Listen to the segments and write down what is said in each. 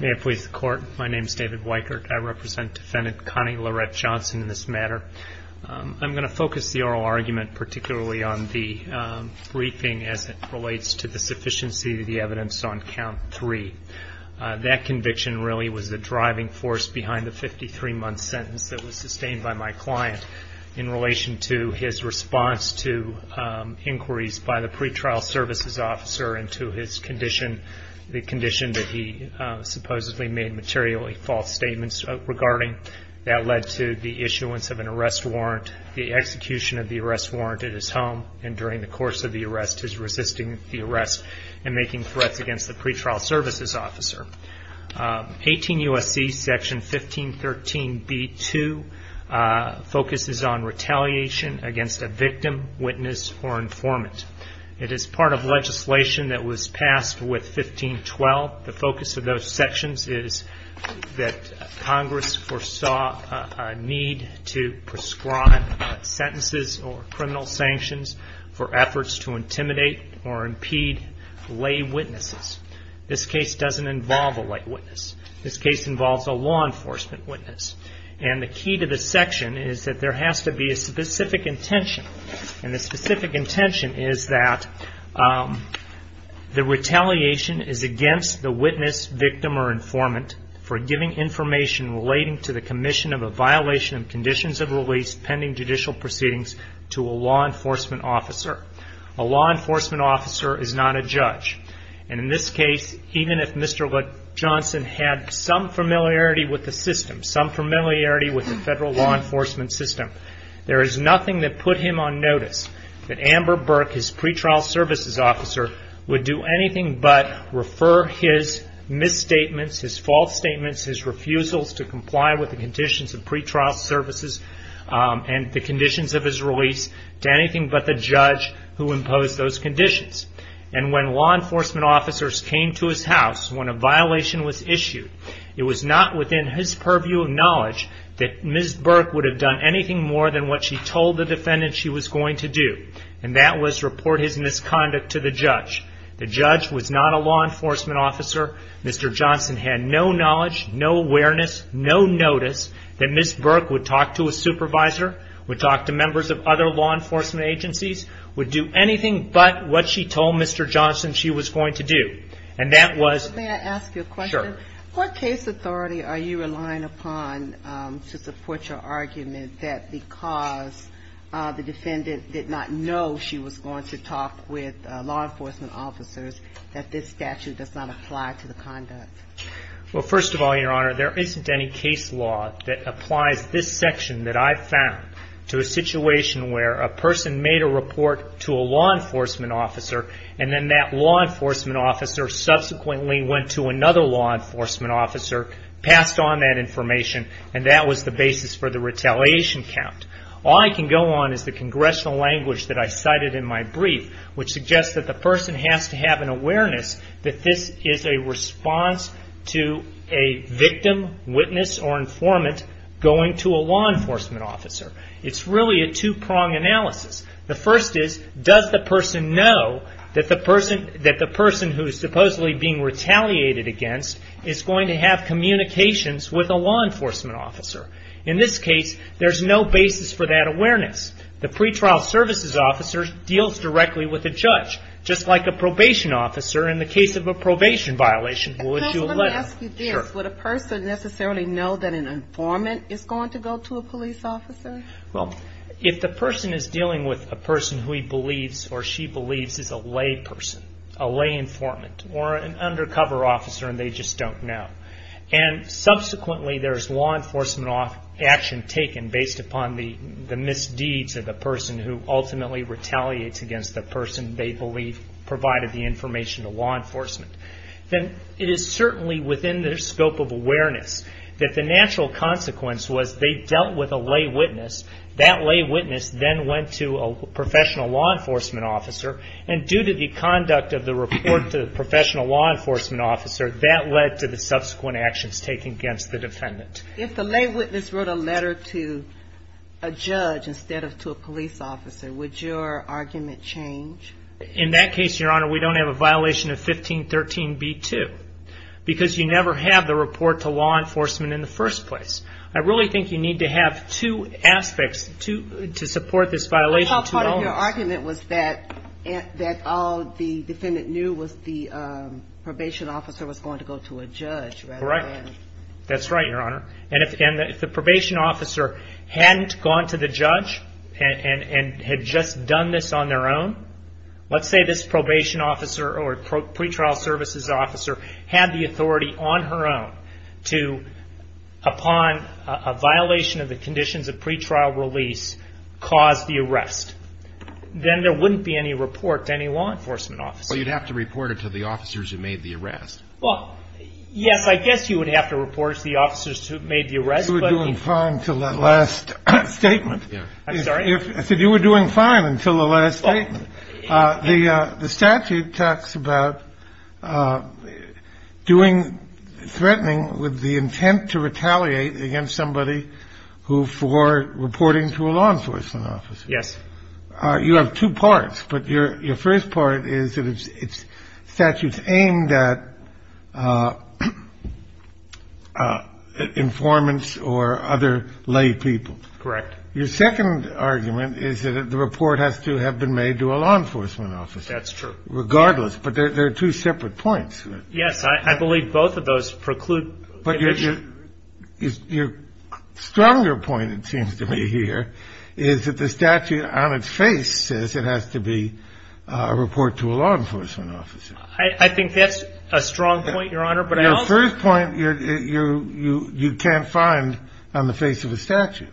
May it please the Court, my name is David Weikert. I represent Defendant Connie Lorette Johnson in this matter. I'm going to focus the oral argument particularly on the briefing as it relates to the sufficiency of the evidence on count three. That conviction really was the driving force behind the 53 month sentence that was sustained by my client in relation to his response to inquiries by the pretrial services officer into his condition and his condition, the condition that he supposedly made materially false statements regarding. That led to the issuance of an arrest warrant, the execution of the arrest warrant at his home, and during the course of the arrest his resisting the arrest and making threats against the pretrial services officer. 18 U.S.C. Section 1513 B.2 focuses on retaliation against a victim, witness, or informant. It is part of legislation that was passed with 1512. The focus of those sections is that Congress foresaw a need to prescribe sentences or criminal sanctions for efforts to intimidate or impede lay witnesses. This case doesn't involve a lay witness. This case involves a law enforcement witness. And the key to this section is that there has to be a specific intention. And the specific intention is that the retaliation is against the witness, victim, or informant for giving information relating to the commission of a violation of conditions of release pending judicial proceedings to a law enforcement officer. A law enforcement officer is not a judge. And in this case, even if Mr. Johnson had some familiarity with the system, some familiarity with the federal law enforcement system, there is nothing that put him on notice that Amber Burke, his pretrial services officer, would do anything but refer his misstatements, his false statements, his refusals to comply with the conditions of pretrial services and the conditions of his release to anything but the judge. And when law enforcement officers came to his house when a violation was issued, it was not within his purview of knowledge that Ms. Burke would have done anything more than what she told the defendant she was going to do. And that was report his misconduct to the judge. The judge was not a law enforcement officer. Mr. Johnson had no knowledge, no awareness, no notice that Ms. Burke would talk to a supervisor, would talk to members of other law enforcement agencies, would do anything but report his misconduct to the judge. She would do anything but what she told Mr. Johnson she was going to do. And that was... May I ask you a question? Sure. What case authority are you relying upon to support your argument that because the defendant did not know she was going to talk with law enforcement officers, that this statute does not apply to the conduct? Well, first of all, Your Honor, there isn't any case law that applies this section that I've found to a situation where a person made a report to a law enforcement officer and then that law enforcement officer subsequently went to another law enforcement officer, passed on that information, and that was the basis for the retaliation count. All I can go on is the congressional language that I cited in my brief, which suggests that the person has to have an awareness that this is a response to a victim, witness, or informant going to a law enforcement officer. It's really a two-prong analysis. The first is, does the person know that the person who is supposedly being retaliated against is going to have communications with a law enforcement officer? In this case, there's no basis for that awareness. The pretrial services officer deals directly with the judge, just like a probation officer in the case of a probation violation would do... Counsel, let me ask you this. Sure. Would a person necessarily know that an informant is going to go to a police officer? Well, if the person is dealing with a person who he believes or she believes is a layperson, a lay informant, or an undercover officer and they just don't know, and subsequently there's law enforcement action taken based upon the misdeeds of the person who ultimately retaliates against the person they believe provided the information to law enforcement, then it is certainly within their scope of awareness that the natural consequence was they dealt with a lay witness, that lay witness then went to a professional law enforcement officer, and due to the conduct of the report to the professional law enforcement officer, that led to the subsequent actions taken against the defendant. If the lay witness wrote a letter to a judge instead of to a police officer, would your argument change? In that case, Your Honor, we don't have a violation of 1513b2 because you never have the report to law enforcement in the first place. I really think you need to have two aspects to support this violation. I thought part of your argument was that all the defendant knew was the probation officer was going to go to a judge rather than... Let's say this probation officer or pretrial services officer had the authority on her own to, upon a violation of the conditions of pretrial release, cause the arrest. Then there wouldn't be any report to any law enforcement officer. Well, you'd have to report it to the officers who made the arrest. Well, yes, I guess you would have to report it to the officers who made the arrest, but... You were doing fine until that last statement. I'm sorry? I said you were doing fine until the last statement. The statute talks about doing threatening with the intent to retaliate against somebody who for reporting to a law enforcement officer. Yes. You have two parts, but your first part is that it's statutes aimed at informants or other lay people. Correct. Your second argument is that the report has to have been made to a law enforcement officer. That's true. Regardless, but there are two separate points. Yes, I believe both of those preclude... But your stronger point, it seems to me here, is that the statute on its face says it has to be a report to a law enforcement officer. I think that's a strong point, Your Honor, but I also... The first point you can't find on the face of a statute.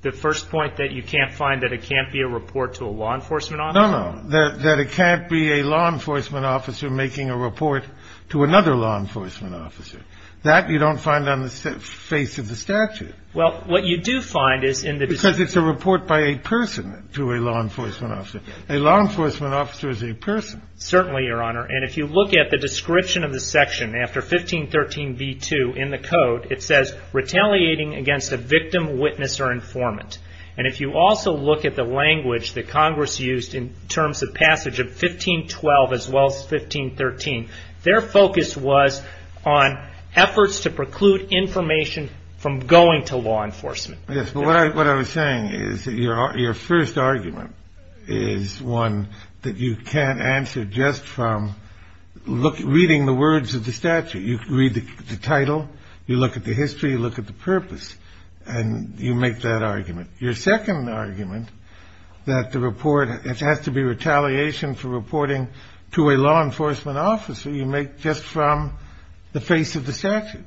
The first point that you can't find that it can't be a report to a law enforcement officer? No, no, that it can't be a law enforcement officer making a report to another law enforcement officer. That you don't find on the face of the statute. Well, what you do find is in the... Because it's a report by a person to a law enforcement officer. A law enforcement officer is a person. Certainly, Your Honor. And if you look at the description of the section after 1513b2 in the code, it says, retaliating against a victim, witness, or informant. And if you also look at the language that Congress used in terms of passage of 1512 as well as 1513, their focus was on efforts to preclude information from going to law enforcement. Yes, but what I was saying is that your first argument is one that you can't answer just from reading the words of the statute. You read the title, you look at the history, you look at the purpose, and you make that argument. Your second argument, that the report has to be retaliation for reporting to a law enforcement officer, you make just from the face of the statute.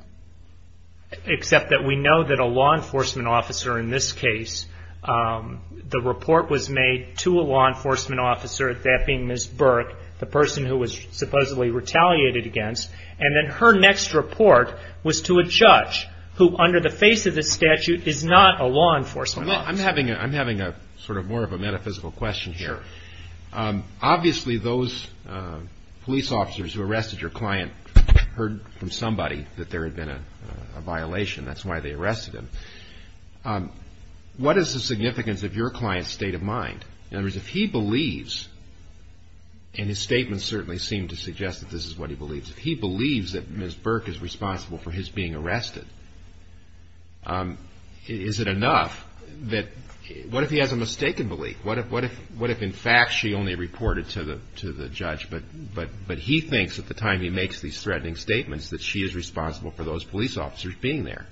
Except that we know that a law enforcement officer in this case, the report was made to a law enforcement officer, that being Ms. Burke, the person who was supposedly retaliated against, and then her next report was to a judge who, under the face of the statute, is not a law enforcement officer. I'm having sort of more of a metaphysical question here. Obviously, those police officers who arrested your client heard from somebody that there had been a violation. That's why they arrested him. What is the significance of your client's state of mind? In other words, if he believes, and his statements certainly seem to suggest that this is what he believes, if he believes that Ms. Burke is responsible for his being arrested, is it enough? What if he has a mistaken belief? What if in fact she only reported to the judge, but he thinks at the time he makes these threatening statements that she is responsible for those police officers being there?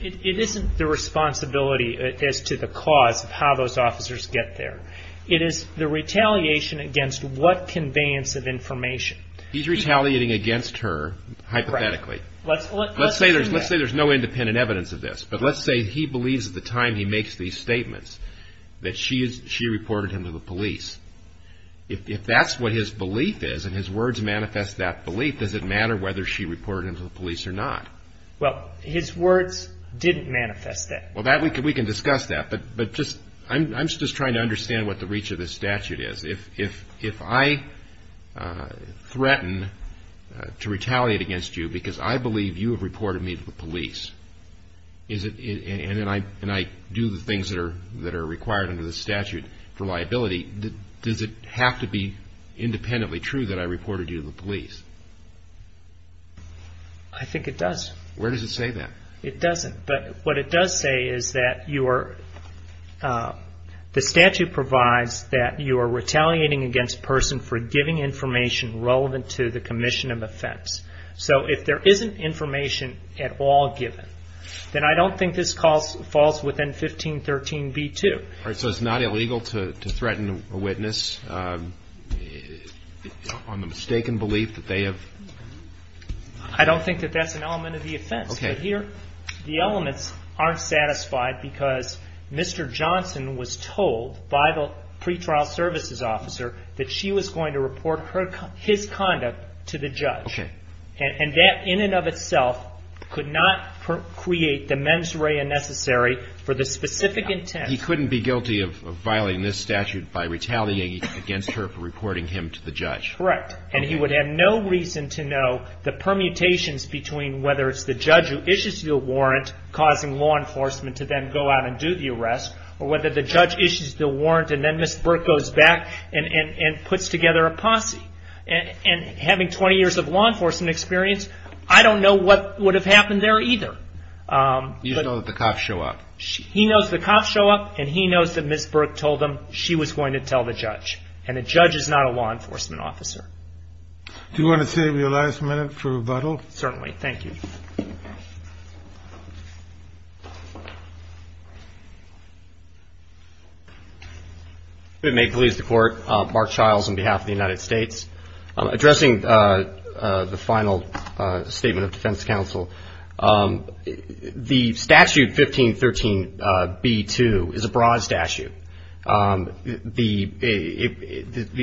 It isn't the responsibility as to the cause of how those officers get there. It is the retaliation against what conveyance of information. He's retaliating against her, hypothetically. Let's say there's no independent evidence of this, but let's say he believes at the time he makes these statements that she reported him to the police. If that's what his belief is, and his words manifest that belief, does it matter whether she reported him to the police or not? Well, his words didn't manifest that. Well, we can discuss that, but I'm just trying to understand what the reach of this statute is. If I threaten to retaliate against you because I believe you have reported me to the police, and I do the things that are required under the statute for liability, does it have to be independently true that I reported you to the police? I think it does. Where does it say that? It doesn't, but what it does say is that the statute provides that you are retaliating against a person for giving information relevant to the commission of offense. So if there isn't information at all given, then I don't think this falls within 1513b2. All right, so it's not illegal to threaten a witness on the mistaken belief that they have? I don't think that that's an element of the offense. Okay. But here the elements aren't satisfied because Mr. Johnson was told by the pretrial services officer that she was going to report his conduct to the judge. Okay. And that in and of itself could not create the mens rea necessary for the specific intent. He couldn't be guilty of violating this statute by retaliating against her for reporting him to the judge. Correct. And he would have no reason to know the permutations between whether it's the judge who issues you a warrant causing law enforcement to then go out and do the arrest, or whether the judge issues the warrant and then Ms. Burke goes back and puts together a posse. And having 20 years of law enforcement experience, I don't know what would have happened there either. You know that the cops show up. He knows the cops show up, and he knows that Ms. Burke told him she was going to tell the judge. And the judge is not a law enforcement officer. Do you want to save your last minute for rebuttal? Certainly. Thank you. If it may please the Court, Mark Childs on behalf of the United States. Addressing the final statement of defense counsel, the statute 1513B2 is a broad statute. The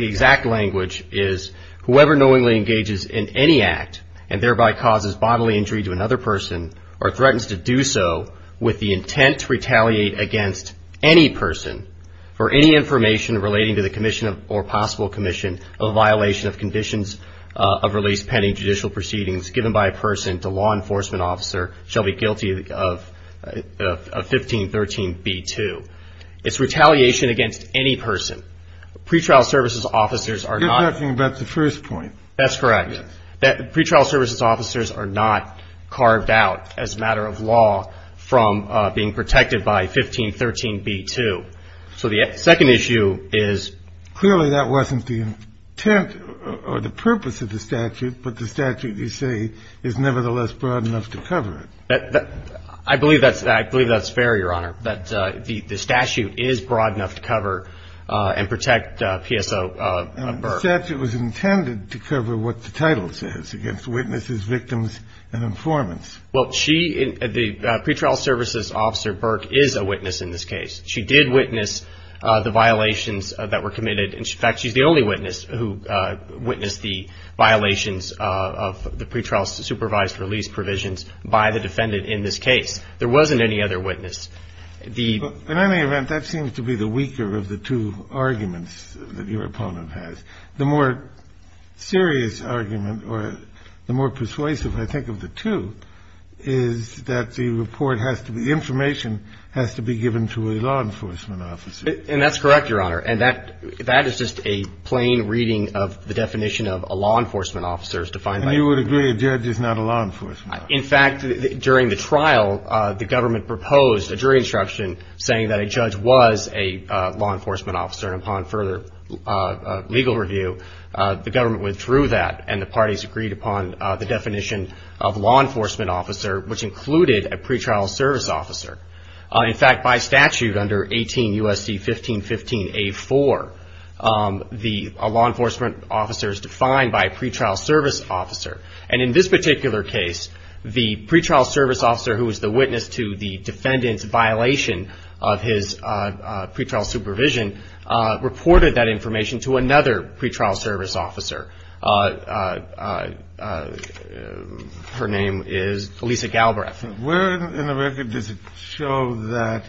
exact language is whoever knowingly engages in any act and thereby causes bodily injury to another person or threatens to do so with the intent to retaliate against any person for any information relating to the commission or possible commission of violation of conditions of release pending judicial proceedings given by a person to law enforcement officer shall be guilty of 1513B2. It's retaliation against any person. Pretrial services officers are not. You're talking about the first point. That's correct. Pretrial services officers are not carved out as a matter of law from being protected by 1513B2. So the second issue is clearly that wasn't the intent or the purpose of the statute, but the statute you say is nevertheless broad enough to cover it. I believe that's fair, Your Honor, that the statute is broad enough to cover and protect PSO Burke. The statute was intended to cover what the title says, against witnesses, victims, and informants. Well, she, the pretrial services officer Burke, is a witness in this case. She did witness the violations that were committed. In fact, she's the only witness who witnessed the violations of the pretrial supervised release provisions by the defendant in this case. There wasn't any other witness. In any event, that seems to be the weaker of the two arguments that your opponent has. The more serious argument or the more persuasive, I think, of the two is that the report has to be, the information has to be given to a law enforcement officer. And that's correct, Your Honor. And that is just a plain reading of the definition of a law enforcement officer as defined by the statute. And you would agree a judge is not a law enforcement officer. In fact, during the trial, the government proposed a jury instruction saying that a judge was a law enforcement officer. And upon further legal review, the government withdrew that, and the parties agreed upon the definition of law enforcement officer, which included a pretrial service officer. In fact, by statute under 18 U.S.C. 1515A4, the law enforcement officer is defined by a pretrial service officer. And in this particular case, the pretrial service officer who was the witness to the defendant's violation of his pretrial supervision reported that information to another pretrial service officer. Her name is Elisa Galbraith. Where in the record does it show that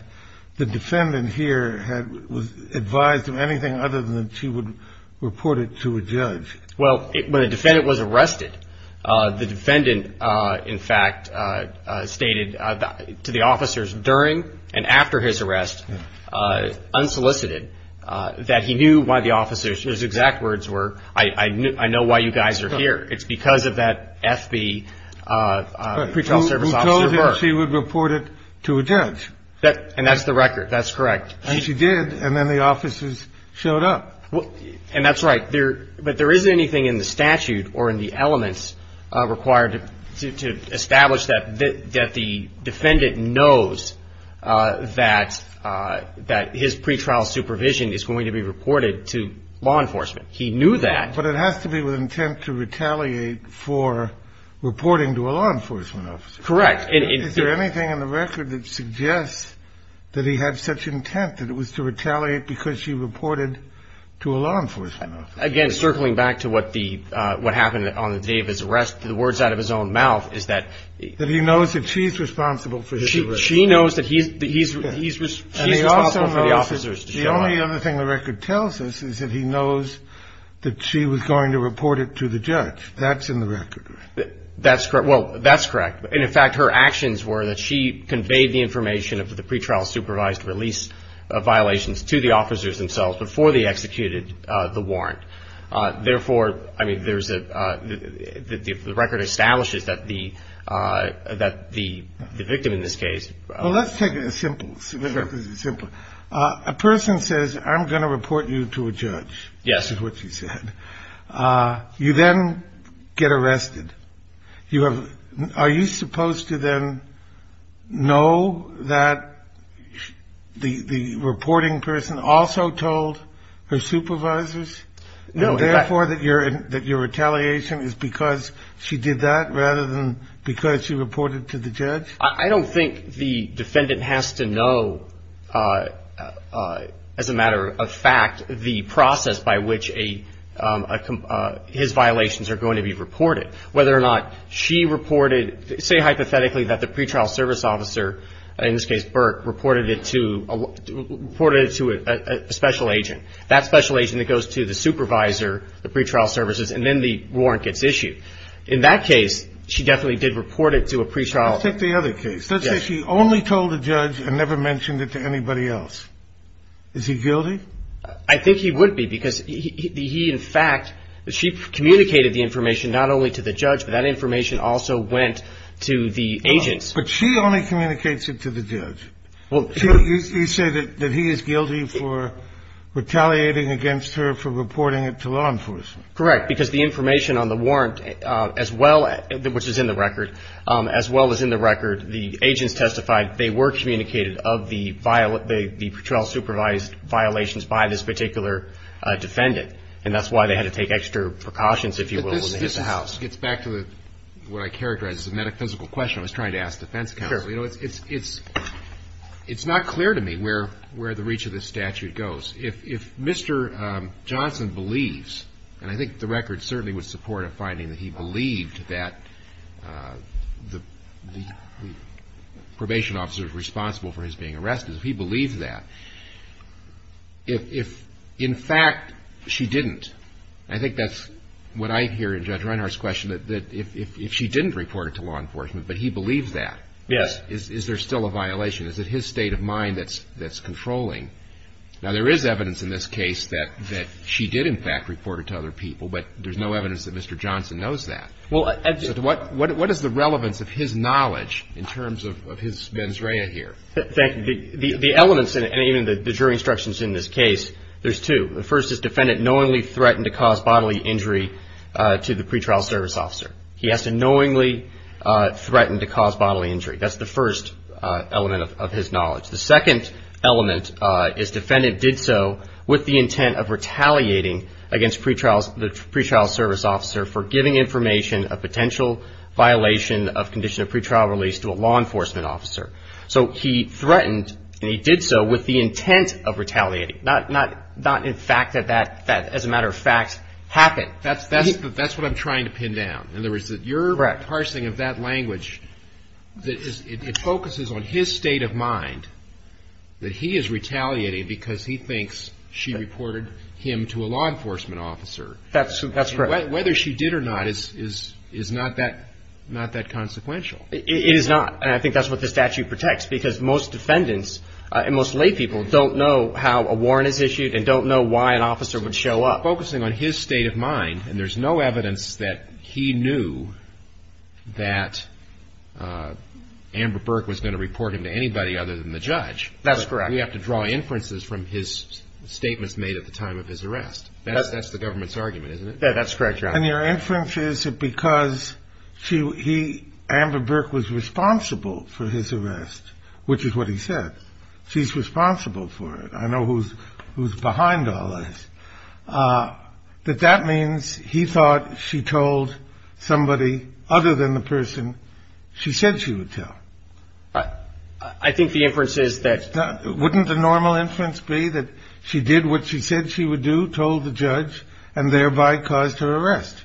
the defendant here was advised of anything other than she would report it to a judge? Well, when a defendant was arrested, the defendant, in fact, stated to the officers during and after his arrest, unsolicited, that he knew why the officers – his exact words were, I know why you guys are here. It's because of that FB pretrial service officer. But who told her she would report it to a judge? And that's the record. That's correct. And she did, and then the officers showed up. And that's right. But there isn't anything in the statute or in the elements required to establish that the defendant knows that his pretrial supervision is going to be reported to law enforcement. He knew that. But it has to be with intent to retaliate for reporting to a law enforcement officer. Correct. Is there anything in the record that suggests that he had such intent, that it was to retaliate because she reported to a law enforcement officer? Again, circling back to what happened on the day of his arrest, the words out of his own mouth is that – That he knows that she's responsible for the arrest. She knows that he's – she's responsible for the officers. And he also knows that the only other thing the record tells us is that he knows that she was going to report it to the judge. That's in the record, right? That's correct. Well, that's correct. And, in fact, her actions were that she conveyed the information of the pretrial supervised release of violations to the officers themselves before they executed the warrant. Therefore, I mean, there's a – the record establishes that the – that the victim in this case – Well, let's take it as simple. A person says, I'm going to report you to a judge. Yes. Is what she said. You then get arrested. You have – are you supposed to then know that the reporting person also told her supervisors? No. And, therefore, that your retaliation is because she did that rather than because she reported to the judge? I don't think the defendant has to know, as a matter of fact, the process by which a – his violations are going to be reported. Whether or not she reported – say hypothetically that the pretrial service officer, in this case Burke, reported it to – reported it to a special agent. That special agent that goes to the supervisor, the pretrial services, and then the warrant gets issued. In that case, she definitely did report it to a pretrial. Let's take the other case. Yes. Let's say she only told the judge and never mentioned it to anybody else. Is he guilty? I think he would be because he – in fact, she communicated the information not only to the judge, but that information also went to the agents. But she only communicates it to the judge. You say that he is guilty for retaliating against her for reporting it to law enforcement. Correct. Because the information on the warrant, as well – which is in the record – as well as in the record, the agents testified they were communicated of the – the pretrial supervised violations by this particular defendant. And that's why they had to take extra precautions, if you will, when they hit the house. But this – this gets back to the – what I characterized as a metaphysical question I was trying to ask the defense counsel. Sure. You know, it's – it's not clear to me where – where the reach of this statute goes. If – if Mr. Johnson believes – and I think the record certainly would support a finding that he believed that the – the probation officer was responsible for his being arrested – if he believed that, if – if, in fact, she didn't – I think that's what I hear in Judge Reinhart's question, that if – if she didn't report it to law enforcement, but he believed that. Yes. Is there still a violation? Is it his state of mind that's – that's controlling? Now, there is evidence in this case that – that she did, in fact, report it to other people. But there's no evidence that Mr. Johnson knows that. Well, I – What – what is the relevance of his knowledge in terms of – of his mens rea here? Thank you. The – the elements in it, and even the jury instructions in this case, there's two. The first is defendant knowingly threatened to cause bodily injury to the pretrial service officer. He has to knowingly threaten to cause bodily injury. That's the first element of – of his knowledge. The second element is defendant did so with the intent of retaliating against pretrials – the pretrial service officer for giving information of potential violation of condition of pretrial release to a law enforcement officer. So he threatened, and he did so with the intent of retaliating. Not – not – not in fact that that – that, as a matter of fact, happened. That's – that's – that's what I'm trying to pin down. In other words, that your – Correct. That parsing of that language that is – it focuses on his state of mind that he is retaliating because he thinks she reported him to a law enforcement officer. That's – that's correct. Whether she did or not is – is – is not that – not that consequential. It is not. And I think that's what the statute protects, because most defendants and most lay people don't know how a warrant is issued and don't know why an officer would show up. Well, focusing on his state of mind, and there's no evidence that he knew that Amber Burke was going to report him to anybody other than the judge. That's correct. We have to draw inferences from his statements made at the time of his arrest. That's – that's the government's argument, isn't it? Yeah, that's correct, Your Honor. And your inference is that because she – he – Amber Burke was responsible for his arrest, which is what he said. She's responsible for it. I know who's – who's behind all this. That that means he thought she told somebody other than the person she said she would tell. I think the inference is that – Wouldn't the normal inference be that she did what she said she would do, told the judge, and thereby caused her arrest?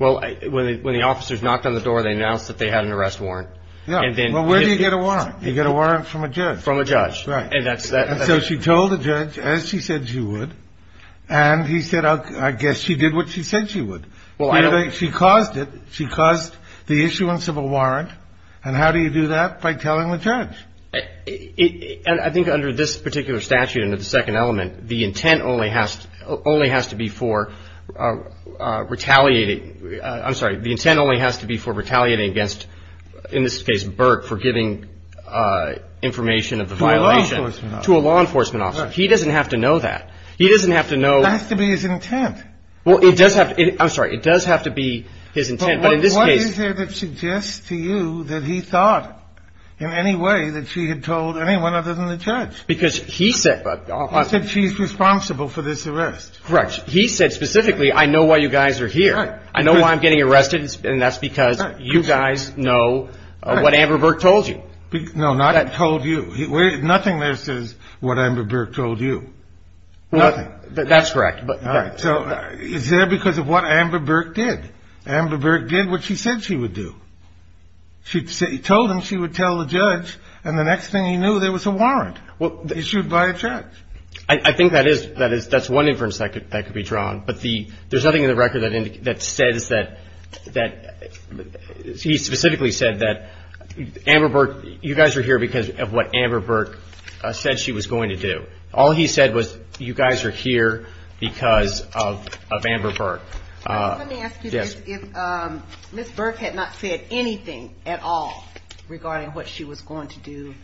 Well, when the – when the officers knocked on the door, they announced that they had an arrest warrant. Yeah. And then – Well, where do you get a warrant? You get a warrant from a judge. Right. And that's – And so she told the judge, as she said she would, and he said, I guess she did what she said she would. Well, I don't – She caused it. She caused the issuance of a warrant. And how do you do that? By telling the judge. It – and I think under this particular statute, under the second element, the intent only has – only has to be for retaliating – To a law enforcement officer. To a law enforcement officer. Right. He doesn't have to know that. He doesn't have to know – It has to be his intent. Well, it does have – I'm sorry. It does have to be his intent. But in this case – But what is there that suggests to you that he thought in any way that she had told anyone other than the judge? Because he said – He said she's responsible for this arrest. Correct. He said specifically, I know why you guys are here. Right. I know why I'm getting arrested, and that's because you guys know what Amber Burke told you. No, not told you. Nothing there says what Amber Burke told you. Nothing. That's correct. All right. So is there because of what Amber Burke did? Amber Burke did what she said she would do. She told him she would tell the judge, and the next thing he knew, there was a warrant issued by a judge. I think that is – that's one inference that could be drawn. But the – there's nothing in the record that says that – that he specifically said that Amber Burke – of what Amber Burke said she was going to do. All he said was, you guys are here because of Amber Burke. Let me ask you this. Yes. If Ms. Burke had not said anything at all regarding what she was going to do,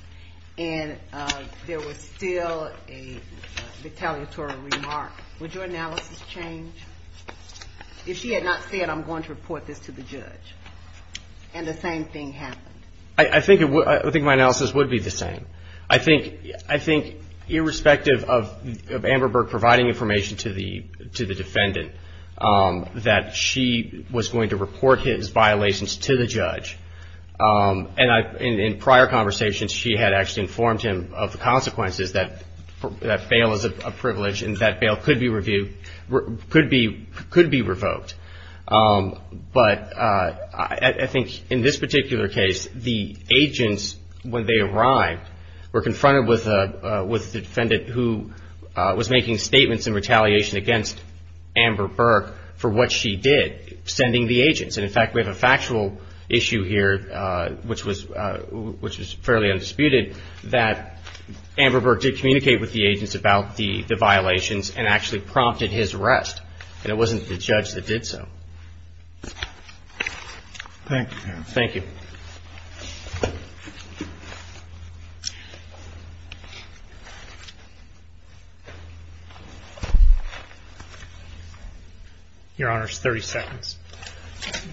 and there was still a retaliatory remark, would your analysis change? If she had not said, I'm going to report this to the judge, and the same thing happened? I think my analysis would be the same. I think, irrespective of Amber Burke providing information to the defendant, that she was going to report his violations to the judge. And in prior conversations, she had actually informed him of the consequences, that bail is a privilege and that bail could be revoked. But I think in this particular case, the agents, when they arrived, were confronted with the defendant who was making statements in retaliation against Amber Burke for what she did, sending the agents. And, in fact, we have a factual issue here, which was fairly undisputed, that Amber Burke did communicate with the agents about the violations and actually prompted his arrest. And it wasn't the judge that did so. Thank you. Thank you. Your Honor, it's 30 seconds.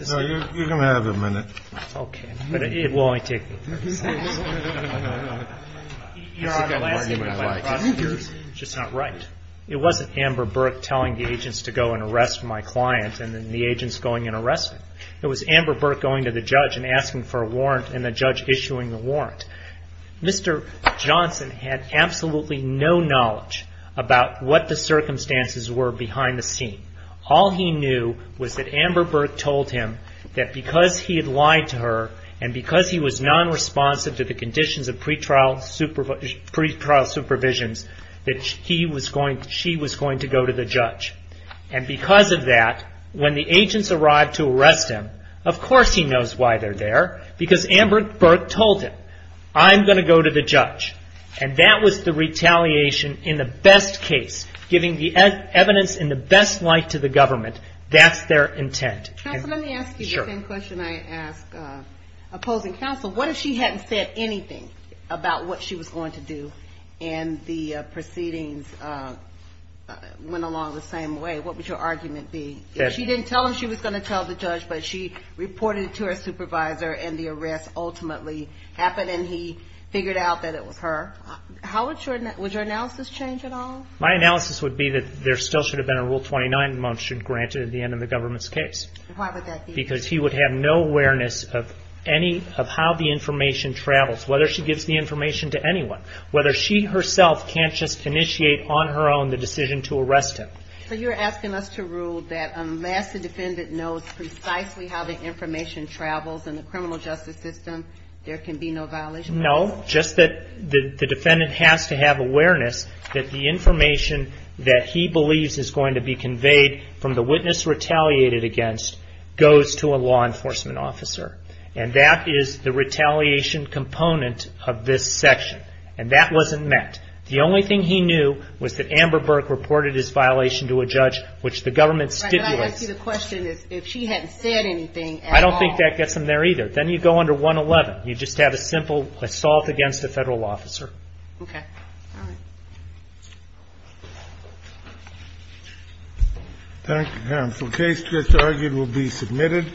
No, you're going to have a minute. Okay. But it will only take me 30 seconds. No, no, no, no. Your Honor, the last thing I would like to say is you're just not right. It wasn't Amber Burke telling the agents to go and arrest my client and then the agents going and arresting him. It was Amber Burke going to the judge and asking for a warrant and the judge issuing the warrant. Mr. Johnson had absolutely no knowledge about what the circumstances were behind the scene. All he knew was that Amber Burke told him that because he had lied to her and because he was non-responsive to the conditions of pretrial supervisions, that she was going to go to the judge. And because of that, when the agents arrived to arrest him, of course he knows why they're there because Amber Burke told him, I'm going to go to the judge. And that was the retaliation in the best case, giving the evidence in the best light to the government. That's their intent. Counsel, let me ask you the same question I asked opposing counsel. What if she hadn't said anything about what she was going to do and the proceedings went along the same way? What would your argument be? If she didn't tell him she was going to tell the judge, but she reported it to her supervisor and the arrest ultimately happened and he figured out that it was her, would your analysis change at all? My analysis would be that there still should have been a Rule 29 motion granted at the end of the government's case. Why would that be? Because he would have no awareness of how the information travels, whether she gives the information to anyone, whether she herself can't just initiate on her own the decision to arrest him. So you're asking us to rule that unless the defendant knows precisely how the information travels in the criminal justice system, there can be no violation? No, just that the defendant has to have awareness that the information that he believes is going to be conveyed from the witness retaliated against goes to a law enforcement officer, and that is the retaliation component of this section, and that wasn't met. The only thing he knew was that Amber Burke reported his violation to a judge, which the government stipulates. Can I ask you the question if she hadn't said anything at all? I don't think that gets them there either. Then you go under 111. You just have a simple assault against a federal officer. Okay. All right. Thank you, Your Honor. The case just argued will be submitted.